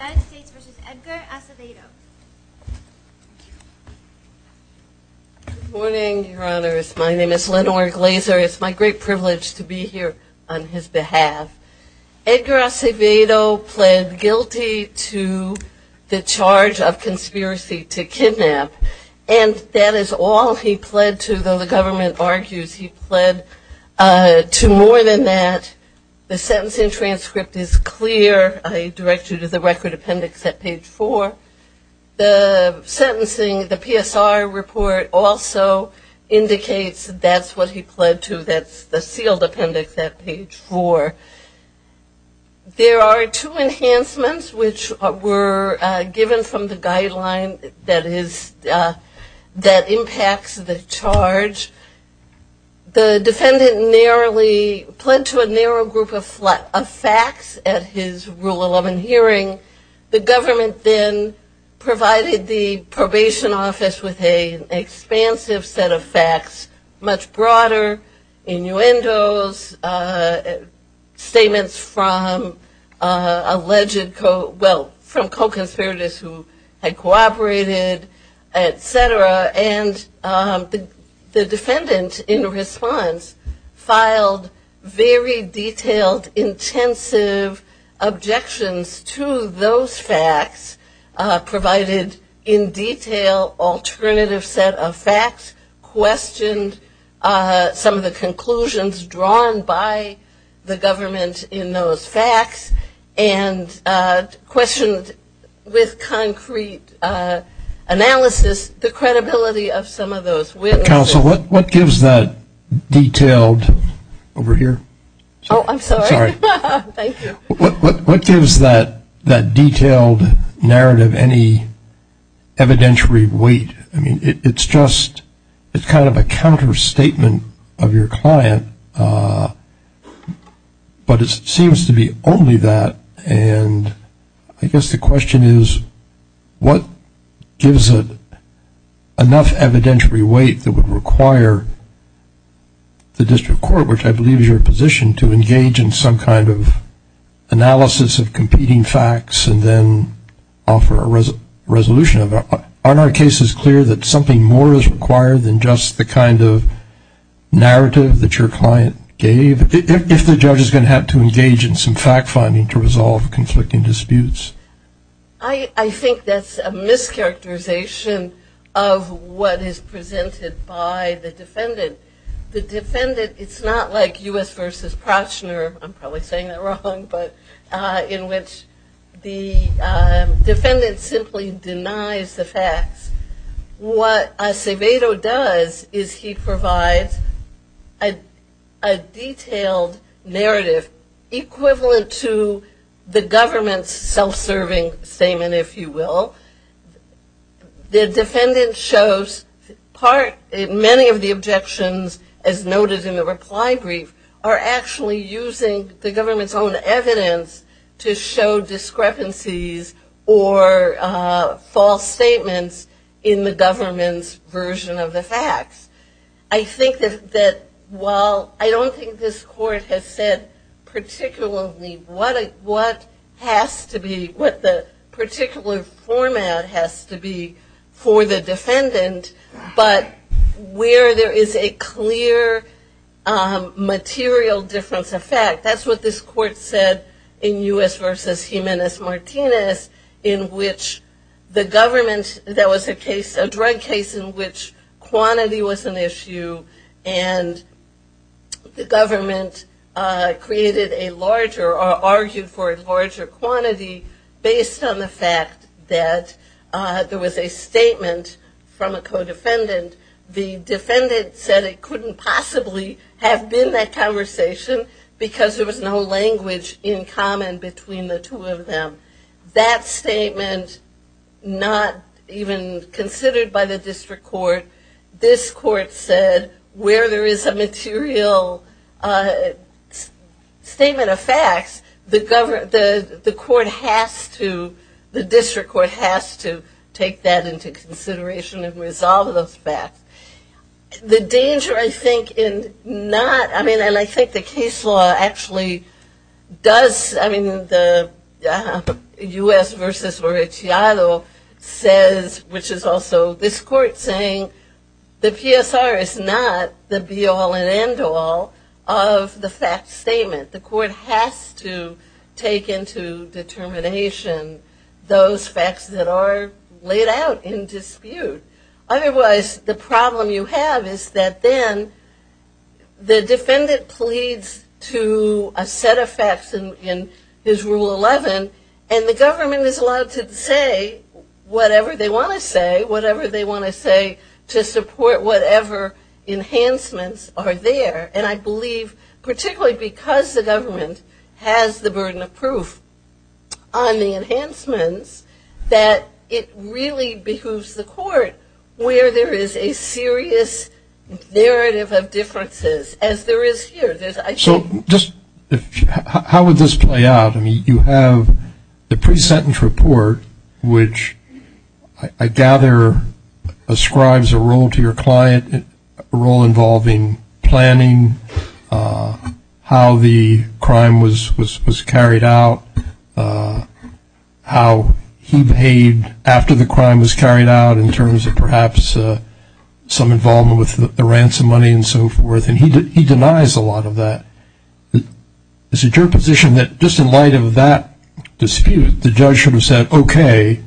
Good morning, your honors. My name is Lenore Glazer. It's my great privilege to be here on his behalf. Edgar Acevedo pled guilty to the charge of conspiracy to kidnap, and that is all he pled to, though the government argues he pled to more than that. The sentence in record appendix at page 4. The sentencing, the PSR report also indicates that's what he pled to. That's the sealed appendix at page 4. There are two enhancements which were given from the guideline that impacts the charge. The defendant narrowly pled to a narrow group of facts at his Rule 11 hearing. The government then provided the probation office with an expansive set of facts, much broader, innuendos, statements from alleged, well from detailed, intensive objections to those facts, provided in detail alternative set of facts, questioned some of the conclusions drawn by the government in those facts, and questioned with concrete analysis the credibility of some of those witnesses. Counsel, what gives that detailed narrative any evidentiary weight? It's kind of a counterstatement of your client, but it seems to be only that, and I guess the question is what gives it enough evidentiary weight that would require the district court, which I believe is your position, to engage in some kind of analysis of competing facts and then offer a resolution of it? Aren't our cases clear that something more is required than just the kind of narrative that your client gave? If the judge is going to have to engage in some fact finding to what is presented by the defendant, the defendant, it's not like U.S. v. Prochner, I'm probably saying that wrong, but in which the defendant simply denies the facts. What Acevedo does is he provides a detailed narrative equivalent to the government's self-serving statement, if you will. The defendant shows many of the objections as noted in the reply brief are actually using the government's own evidence to show discrepancies or false statements in the government's version of the facts. I think that while I don't think this court has said particularly what has to be, what the particular format has to be for the defendant, but where there is a clear material difference of fact, that's what this court said in U.S. v. Jimenez-Martinez, in which the government, there was a drug case in which quantity was an issue and the government created a larger, argued for a larger quantity based on the fact that there was a statement from a co-defendant. The defendant said it couldn't possibly have been that conversation because there was no language in common between the two of them. That statement not even considered by the district court, this court said where there is a material statement of facts, the court has to, the district court has to take that into consideration and resolve those facts. The danger I think in not, I mean and I think the case law actually does, I mean the U.S. v. Oreciado says, which is also this court saying, the PSR is not the be all and end all of the fact statement. The court has to take into determination those facts that are laid out in dispute. Otherwise the problem you have is that then the defendant pleads to a set of facts in his rule 11 and the government is allowed to say whatever they want to say, whatever they want to say to support whatever enhancements are there. And I believe particularly because the government has the burden of proof on the where there is a serious narrative of differences as there is here. So just how would this play out? I mean you have the pre-sentence report which I gather ascribes a role to your client, a role involving planning, how the crime was carried out, how he behaved after the crime was resolved, perhaps some involvement with the ransom money and so forth. And he denies a lot of that. Is it your position that just in light of that dispute the judge should have said okay,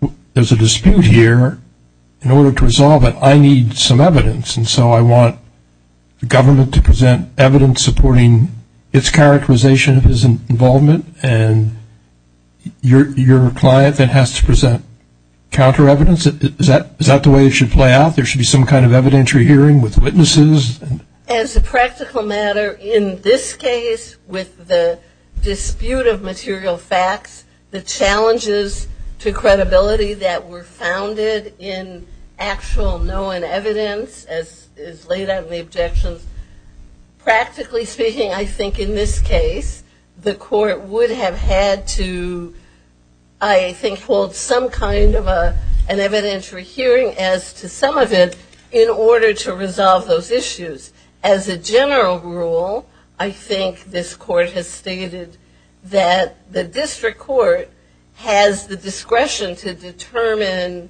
there is a dispute here, in order to resolve it I need some evidence. And so I want the government to present evidence supporting its characterization of his involvement and your client then has to present counter evidence Is that the way it should play out? There should be some kind of evidentiary hearing with witnesses? As a practical matter in this case with the dispute of material facts, the challenges to credibility that were founded in actual known evidence as laid out in the objections, practically speaking I think in this evidentiary hearing as to some of it in order to resolve those issues. As a general rule I think this court has stated that the district court has the discretion to determine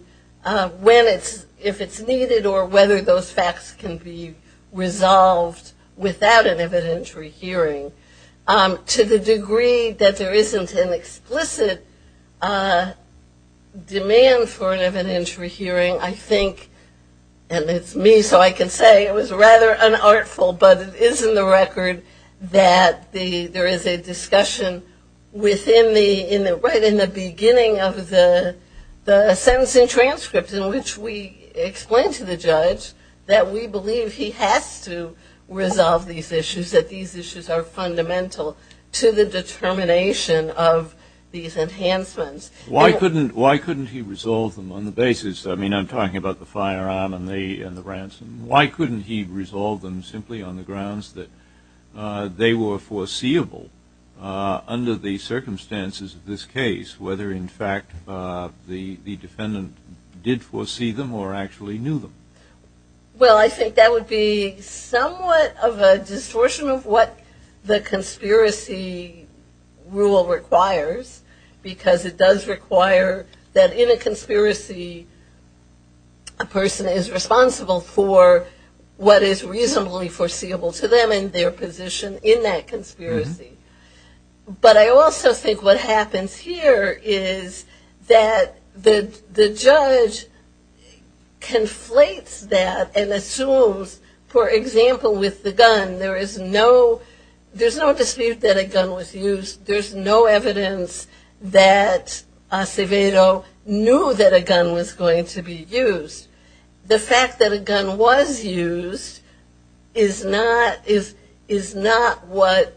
when it's, if it's needed or whether those facts can be resolved without an evidentiary hearing. To the degree that there isn't an explicit demand for an evidentiary hearing I think, and it's me so I can say it was rather unartful, but it is in the record that there is a discussion within the, right in the beginning of the sentencing transcript in which we explain to the judge that we believe he has to resolve these issues, that these issues are fundamental to the determination of these enhancements. Why couldn't, why couldn't he resolve them on the basis, I mean I'm talking about the firearm and the ransom, why couldn't he resolve them simply on the grounds that they were foreseeable under the circumstances of this case, whether in fact the defendant did foresee them or actually knew them? Well I think that would be somewhat of a distortion of what the conspiracy rule requires because it does require that in a conspiracy a person is responsible for what is reasonably foreseeable to them and their position in that conspiracy. But I also think what happens here is that the judge conflates that and assumes for example with the gun there is no, there's no dispute that a gun was used, there's no evidence that Acevedo knew that a gun was going to be used. The fact that a gun was used is not what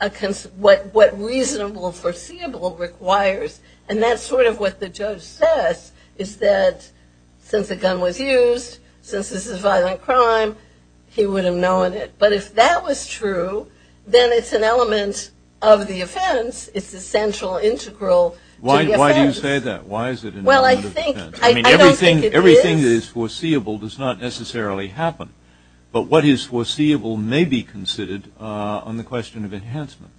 a, what reasonable foreseeable requires and that's sort of what the judge says is that since a gun was used, since this is a violent crime, he would have known it. But if that was true then it's an element of the offense, it's the central integral to the offense. Why do you say that? Why is it an element of the offense? Well I think, I don't think it is. Everything that is foreseeable does not necessarily happen. But what is foreseeable may be considered on the question of enhancement.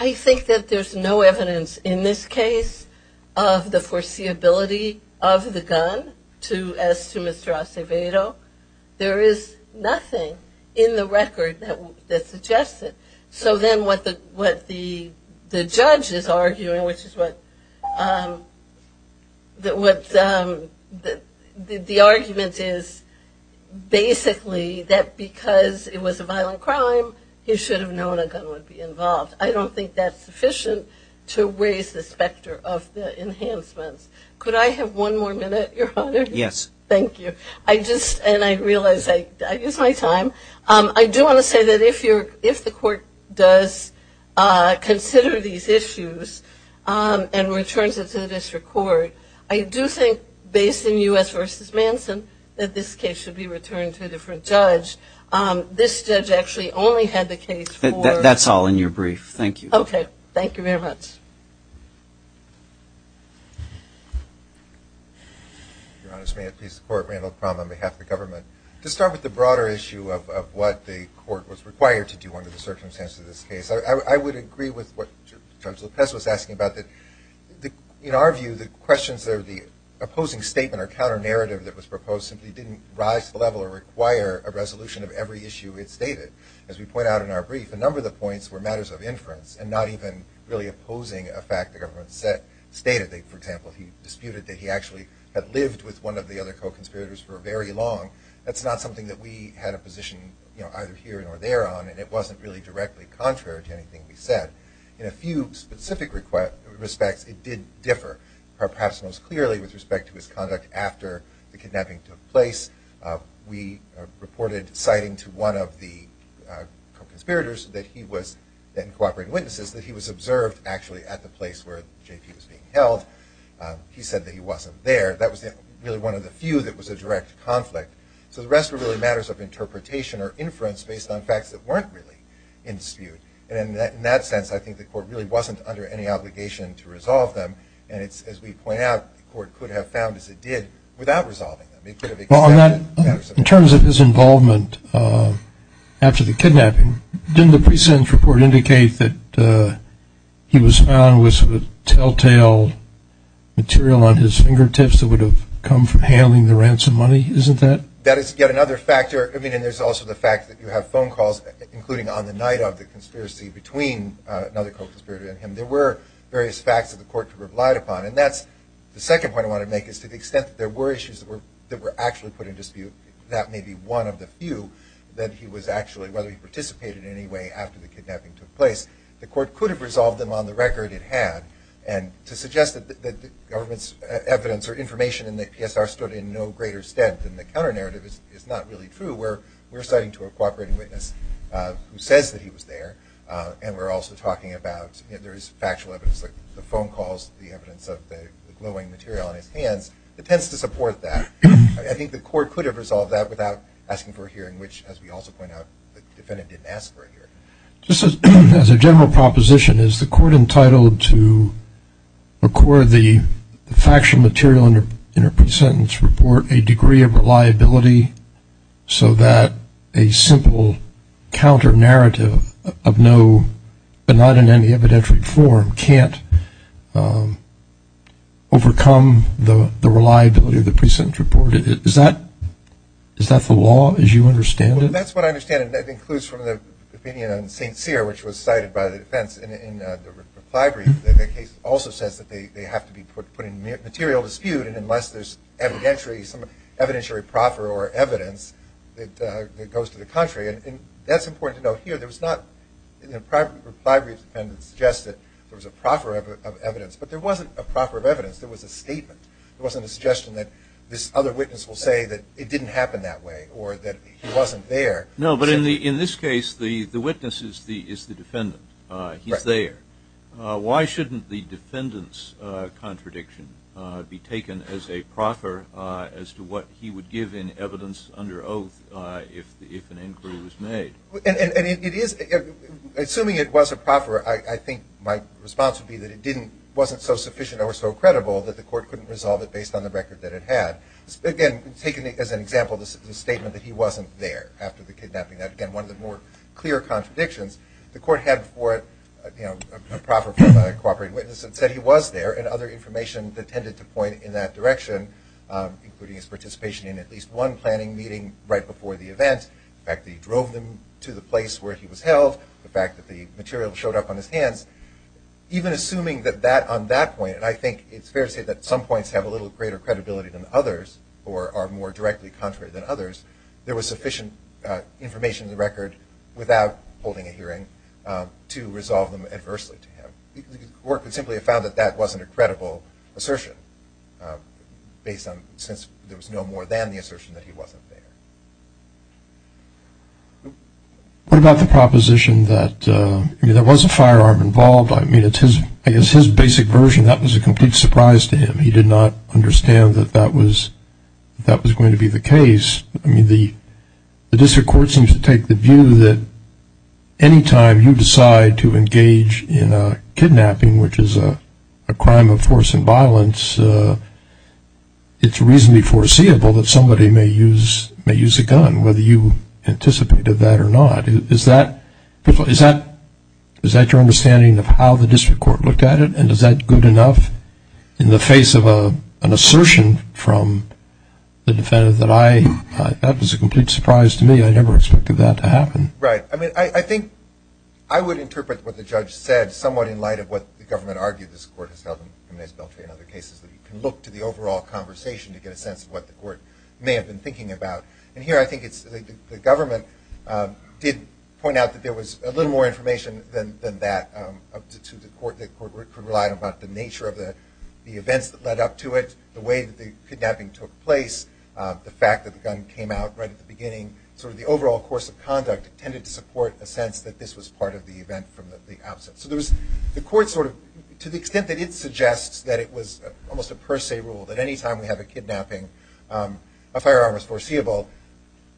I think that there's no evidence in this case of the foreseeability of the gun as to Mr. Acevedo. There is nothing in the record that suggests it. So then what the judge is arguing, which is what, the argument is basically that because it was a violent crime, he should have known a gun would be involved. I don't think that's sufficient to raise the specter of the enhancements. Could I have one more minute, your honor? Yes. Thank you. I just, and I realize I, I use my time. I do want to say that if you're, if the court does consider these issues and returns it to the district court, I do think based in U.S. v. Manson that this case should be returned to a different judge. This judge actually only had the case for- That's all in your brief. Thank you. Okay. Thank you very much. Your Honor, may it please the court, Randall Kram on behalf of the government. To start with the broader issue of what the court was required to do under the circumstances of this case, I would agree with what Judge Lopez was asking about that in our view, the questions that are the opposing statement or counter narrative that was proposed simply didn't rise to the level or require a resolution of every issue it stated. As we point out in our brief, a number of the points were matters of inference and not even really opposing a fact the government stated. For example, he disputed that he actually had lived with one of the other co-conspirators for very long. That's not something that we had a position either here or there on, and it wasn't really directly contrary to anything we said. In a few specific respects, it did differ. Perhaps most clearly with respect to his conduct after the kidnapping took place, we reported citing to one of the co-conspirators that he was, and cooperating witnesses, that he was observed actually at the place where JP was being held. He said that he wasn't there. That was really one of the few that was a direct conflict. So the rest were really matters of interpretation or inference based on facts that weren't really in dispute. And in that sense, I think the court really wasn't under any obligation to resolve them, and it's, as we point out, the court could have found as it did without resolving them. It could have accepted matters of inference. In terms of his involvement after the kidnapping, didn't the pre-sentence report indicate that he was found with telltale material on his fingertips that would have come from handling the ransom money? Isn't that? That is yet another factor. I mean, and there's also the fact that you have phone calls, including on the night of the conspiracy between another co-conspirator and him. There were various facts that the court could have relied upon. And that's the second point I want to make, is to the extent that there were issues that were actually put in dispute, that may be one of the few that he was actually, whether he participated in any way after the kidnapping took place. The court could have resolved them on the record it had. And to suggest that the government's evidence or information in the PSR stood in no greater stead than the counter-narrative is not really true. We're citing to a cooperating witness who says that he was there. And we're also talking about, you know, there is factual evidence, the phone calls, the evidence of the glowing material on his hands. It tends to support that. I think the court could have resolved that without asking for a hearing, which, as we also point out, the defendant didn't ask for a hearing. Just as a general proposition, is the court entitled to record the factual material in a pre-sentence report a degree of reliability so that a simple counter-narrative of no, but does not overcome the reliability of the pre-sentence report? Is that the law as you understand it? Well, that's what I understand, and that includes from the opinion on St. Cyr, which was cited by the defense in the reply brief. The case also says that they have to be put in material dispute, and unless there's evidentiary, some evidentiary proffer or evidence that goes to the contrary. And that's important to note here. There was not, in the reply brief, a defendant suggested there was a proffer of evidence, but there wasn't a proffer of evidence, there was a statement. It wasn't a suggestion that this other witness will say that it didn't happen that way, or that he wasn't there. No, but in this case, the witness is the defendant, he's there. Why shouldn't the defendant's contradiction be taken as a proffer as to what he would give in evidence under oath if an inquiry was made? And it is, assuming it was a proffer, I think my response would be that it wasn't so sufficient or so credible that the court couldn't resolve it based on the record that it had. Again, taking as an example the statement that he wasn't there after the kidnapping, that again, one of the more clear contradictions. The court had for it a proffer from a cooperate witness that said he was there and other information that tended to point in that direction, including his participation in at least one planning meeting right before the event, the fact that he drove them to the place where he was held, the fact that the material showed up on his hands. Even assuming that on that point, and I think it's fair to say that some points have a little greater credibility than others or are more directly contrary than others, there was sufficient information in the record without holding a hearing to resolve them adversely to him. The court would simply have found that that wasn't a credible assertion based on since there was no more than the assertion that he wasn't there. What about the proposition that there was a firearm involved? I mean, it's his basic version. That was a complete surprise to him. He did not understand that that was going to be the case. I mean, the district court seems to take the view that any time you decide to engage in a kidnapping, which is a crime of force and violence, it's reasonably foreseeable that somebody may use a gun, whether you anticipated that or not. Is that your understanding of how the district court looked at it? And is that good enough in the face of an assertion from the defendant that, that was a complete surprise to me. I never expected that to happen. Right, I mean, I think I would interpret what the judge said somewhat in light of what the government argued this court has held in other cases, that you can look to the overall conversation to get a sense of what the court may have been thinking about. And here, I think it's the government did point out that there was a little more information than that to the court. The court could rely on about the nature of the events that led up to it, the way that the kidnapping took place, the fact that the gun came out right at the beginning, sort of the overall course of conduct tended to support a sense that this was part of the event from the outset. So there was the court sort of, to the extent that it suggests that it was almost a per se rule, that any time we have a kidnapping, a firearm was foreseeable.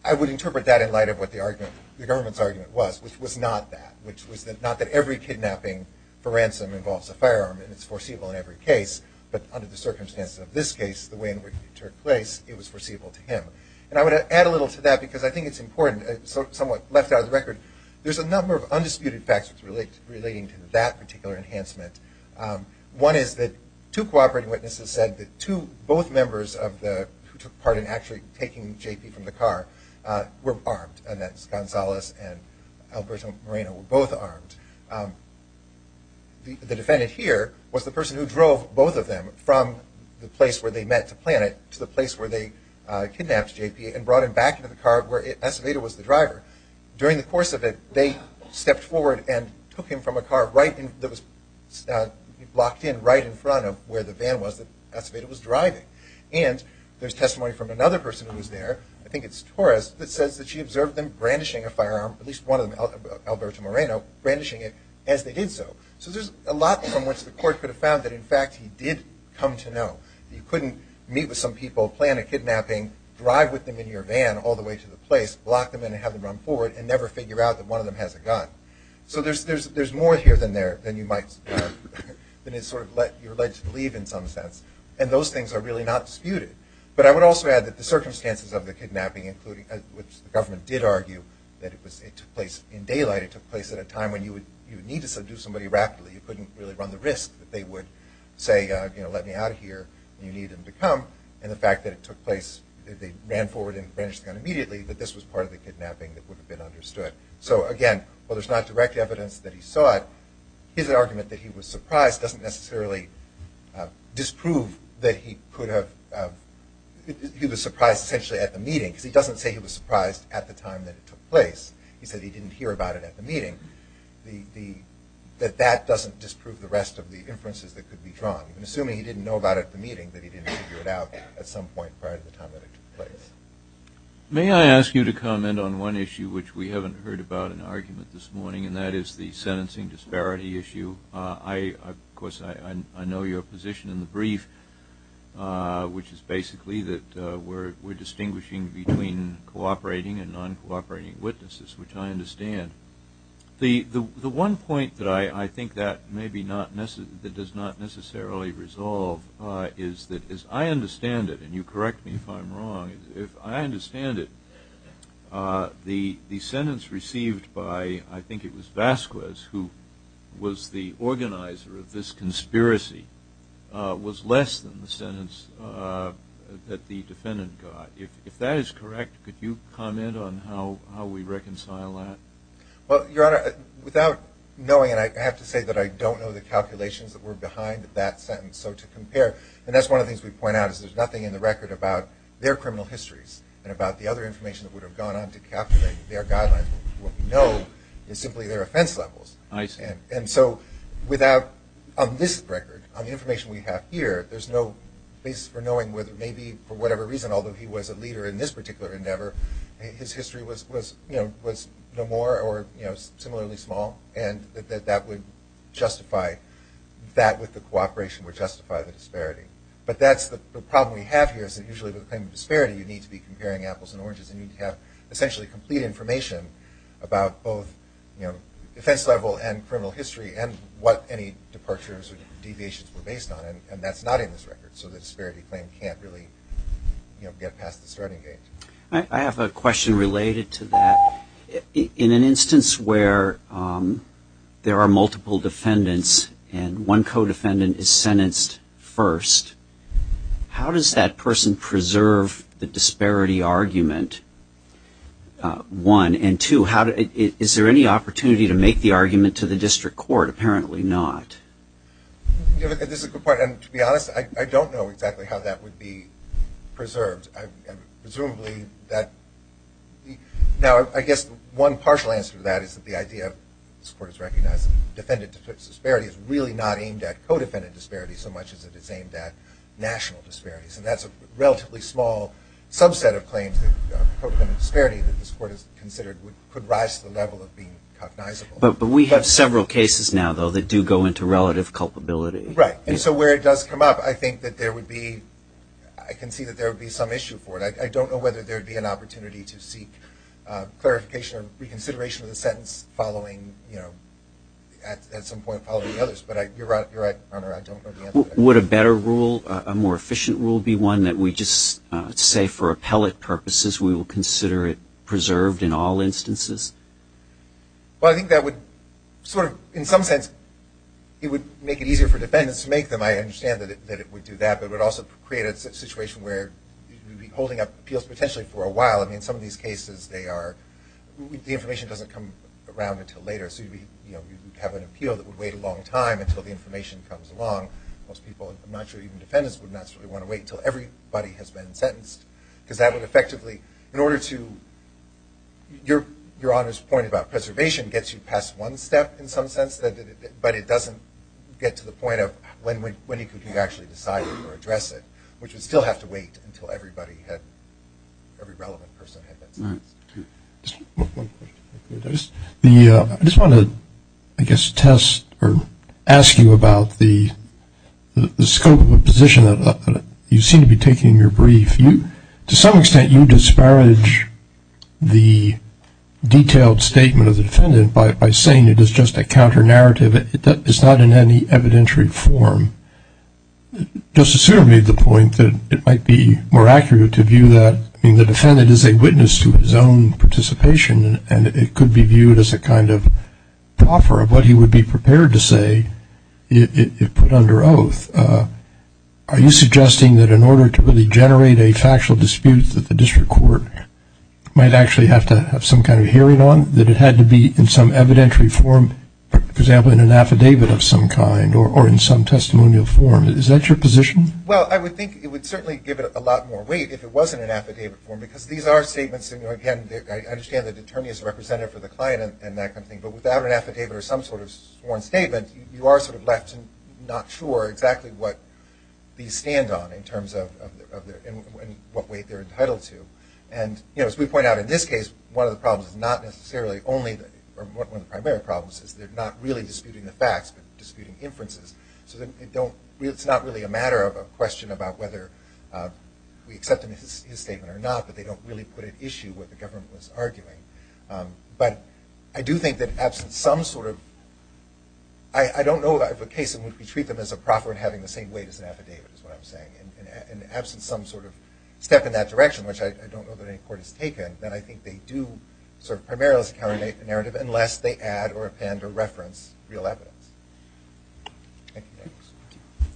I would interpret that in light of what the government's argument was, which was not that, which was not that every kidnapping for ransom involves a firearm, and it's foreseeable in every case. But under the circumstances of this case, the way in which it took place, it was foreseeable to him. And I would add a little to that, because I think it's important, somewhat left out of the record, there's a number of undisputed facts relating to that particular enhancement. One is that two cooperating witnesses said that two, both members of the, who took part in actually taking J.P. from the car, were armed. And that's Gonzalez and Alberto Moreno were both armed. The defendant here was the person who drove both of them from the place where they met to plan it to the place where they kidnapped J.P. and brought him back into the car where Acevedo was the driver. During the course of it, they stepped forward and took him from a car right in, that was blocked in right in front of where the van was that Acevedo was driving. And there's testimony from another person who was there, I think it's Torres, that says that she observed them brandishing a firearm, at least one of them, Alberto Moreno, brandishing it as they did so. So there's a lot from which the court could have found that, in fact, he did come to know. You couldn't meet with some people, plan a kidnapping, drive with them in your van all the way to the place, block them in and have them run forward, and never figure out that one of them has a gun. So there's more here than there, than you might sort of let your alleged leave in some sense. And those things are really not disputed. But I would also add that the circumstances of the kidnapping, including, which the government did argue, that it took place in daylight. It took place at a time when you would need to subdue somebody rapidly. You couldn't really run the risk that they would say, let me out of here. You need them to come. And the fact that it took place, that they ran forward and were part of the kidnapping, that would have been understood. So again, while there's not direct evidence that he saw it, his argument that he was surprised doesn't necessarily disprove that he could have, he was surprised, essentially, at the meeting. Because he doesn't say he was surprised at the time that it took place. He said he didn't hear about it at the meeting. That that doesn't disprove the rest of the inferences that could be drawn. Assuming he didn't know about it at the meeting, that he didn't figure it out at some point prior to the time that it took place. May I ask you to comment on one issue which we haven't heard about in argument this morning, and that is the sentencing disparity issue. I, of course, I know your position in the brief, which is basically that we're distinguishing between cooperating and non-cooperating witnesses, which I understand, the one point that I think that maybe not necessarily, that does not necessarily resolve is that as I understand it, and you correct me if I'm wrong, if I understand it, the sentence received by, I think it was Vasquez, who was the organizer of this conspiracy, was less than the sentence that the defendant got. If that is correct, could you comment on how we reconcile that? Well, your honor, without knowing, and I have to say that I don't know the calculations that were behind that sentence, so to compare, and that's one of the things we point out, is there's nothing in the record about their criminal histories and about the other information that would have gone on to calculate their guidelines. What we know is simply their offense levels. I see. And so without, on this record, on the information we have here, there's no basis for knowing whether, maybe for whatever reason, although he was a leader in this particular endeavor, his history was, you know, was no more or, you know, similarly small. And that that would justify, that with the cooperation would justify the disparity. But that's the problem we have here, is that usually with a claim of disparity, you need to be comparing apples and oranges, and you need to have essentially complete information about both, you know, defense level and criminal history, and what any departures or deviations were based on, and that's not in this record. So the disparity claim can't really, you know, get past the starting gate. I have a question related to that. In an instance where there are multiple defendants and one co-defendant is sentenced first, how does that person preserve the disparity argument, one? And two, how, is there any opportunity to make the argument to the district court? Apparently not. You know, this is a good point. And to be honest, I, I don't know exactly how that would be preserved. I, I, presumably that, now I, I guess one partial answer to that is that the idea this court is recognizing defendant disparity is really not aimed at co-defendant disparity so much as it is aimed at national disparities. And that's a relatively small subset of claims that co-defendant disparity that this court has considered would, could rise to the level of being cognizable. But, but we have several cases now, though, that do go into relative culpability. Right, and so where it does come up, I think that there would be, I can see that there would be some issue for it. I, I don't know whether there would be an opportunity to seek clarification or consideration of the sentence following, you know, at, at some point following others. But I, you're right, you're right, I don't know the answer to that. Would a better rule, a more efficient rule be one that we just say for appellate purposes, we will consider it preserved in all instances? Well, I think that would sort of, in some sense, it would make it easier for defendants to make them. I understand that it, that it would do that, but it would also create a situation where you'd be holding up appeals potentially for a while. I mean, some of these cases, they are, the information doesn't come around until later. So you'd be, you know, you'd have an appeal that would wait a long time until the information comes along. Most people, I'm not sure even defendants, would naturally want to wait until everybody has been sentenced. Cuz that would effectively, in order to, your, your honor's point about preservation gets you past one step, in some sense, that it, but it doesn't get to the point of when, when, when you could actually decide or address it. Which would still have to wait until everybody had, every relevant person had been sentenced. Just one, one question, I just, the I just want to, I guess, test or ask you about the, the scope of a position that you seem to be taking in your brief. You, to some extent, you disparage the detailed statement of the defendant by, by saying it is just a counter-narrative, that it's not in any evidentiary form. Justice Souter made the point that it might be more accurate to view that, I mean, the defendant is a witness to his own participation. And it could be viewed as a kind of proffer of what he would be prepared to say. It, it, it put under oath. Are you suggesting that in order to really generate a factual dispute that the district court might actually have to have some kind of hearing on? That it had to be in some evidentiary form, for example, in an affidavit of some kind, or, or in some testimonial form. Is that your position? Well, I would think it would certainly give it a lot more weight if it wasn't an affidavit form, because these are statements, you know, again, I understand that the attorney is a representative for the client and, and that kind of thing. But without an affidavit or some sort of sworn statement, you are sort of left not sure exactly what these stand on in terms of, of their, in what weight they're entitled to. And, you know, as we point out in this case, one of the problems is not necessarily only, or one of the primary problems is they're not really disputing the facts, but disputing inferences. So they, they don't, it's not really a matter of a question about whether we accept his, his statement or not, but they don't really put at issue what the government was arguing. But I do think that absent some sort of, I, I don't know of a case in which we treat them as a proffer in having the same weight as an affidavit is what I'm saying, and, and absent some sort of step in that direction, which I, I don't know that any court has taken, then I think they do sort of primarily counter-narrative unless they add or append or reference real evidence. Thank you very much.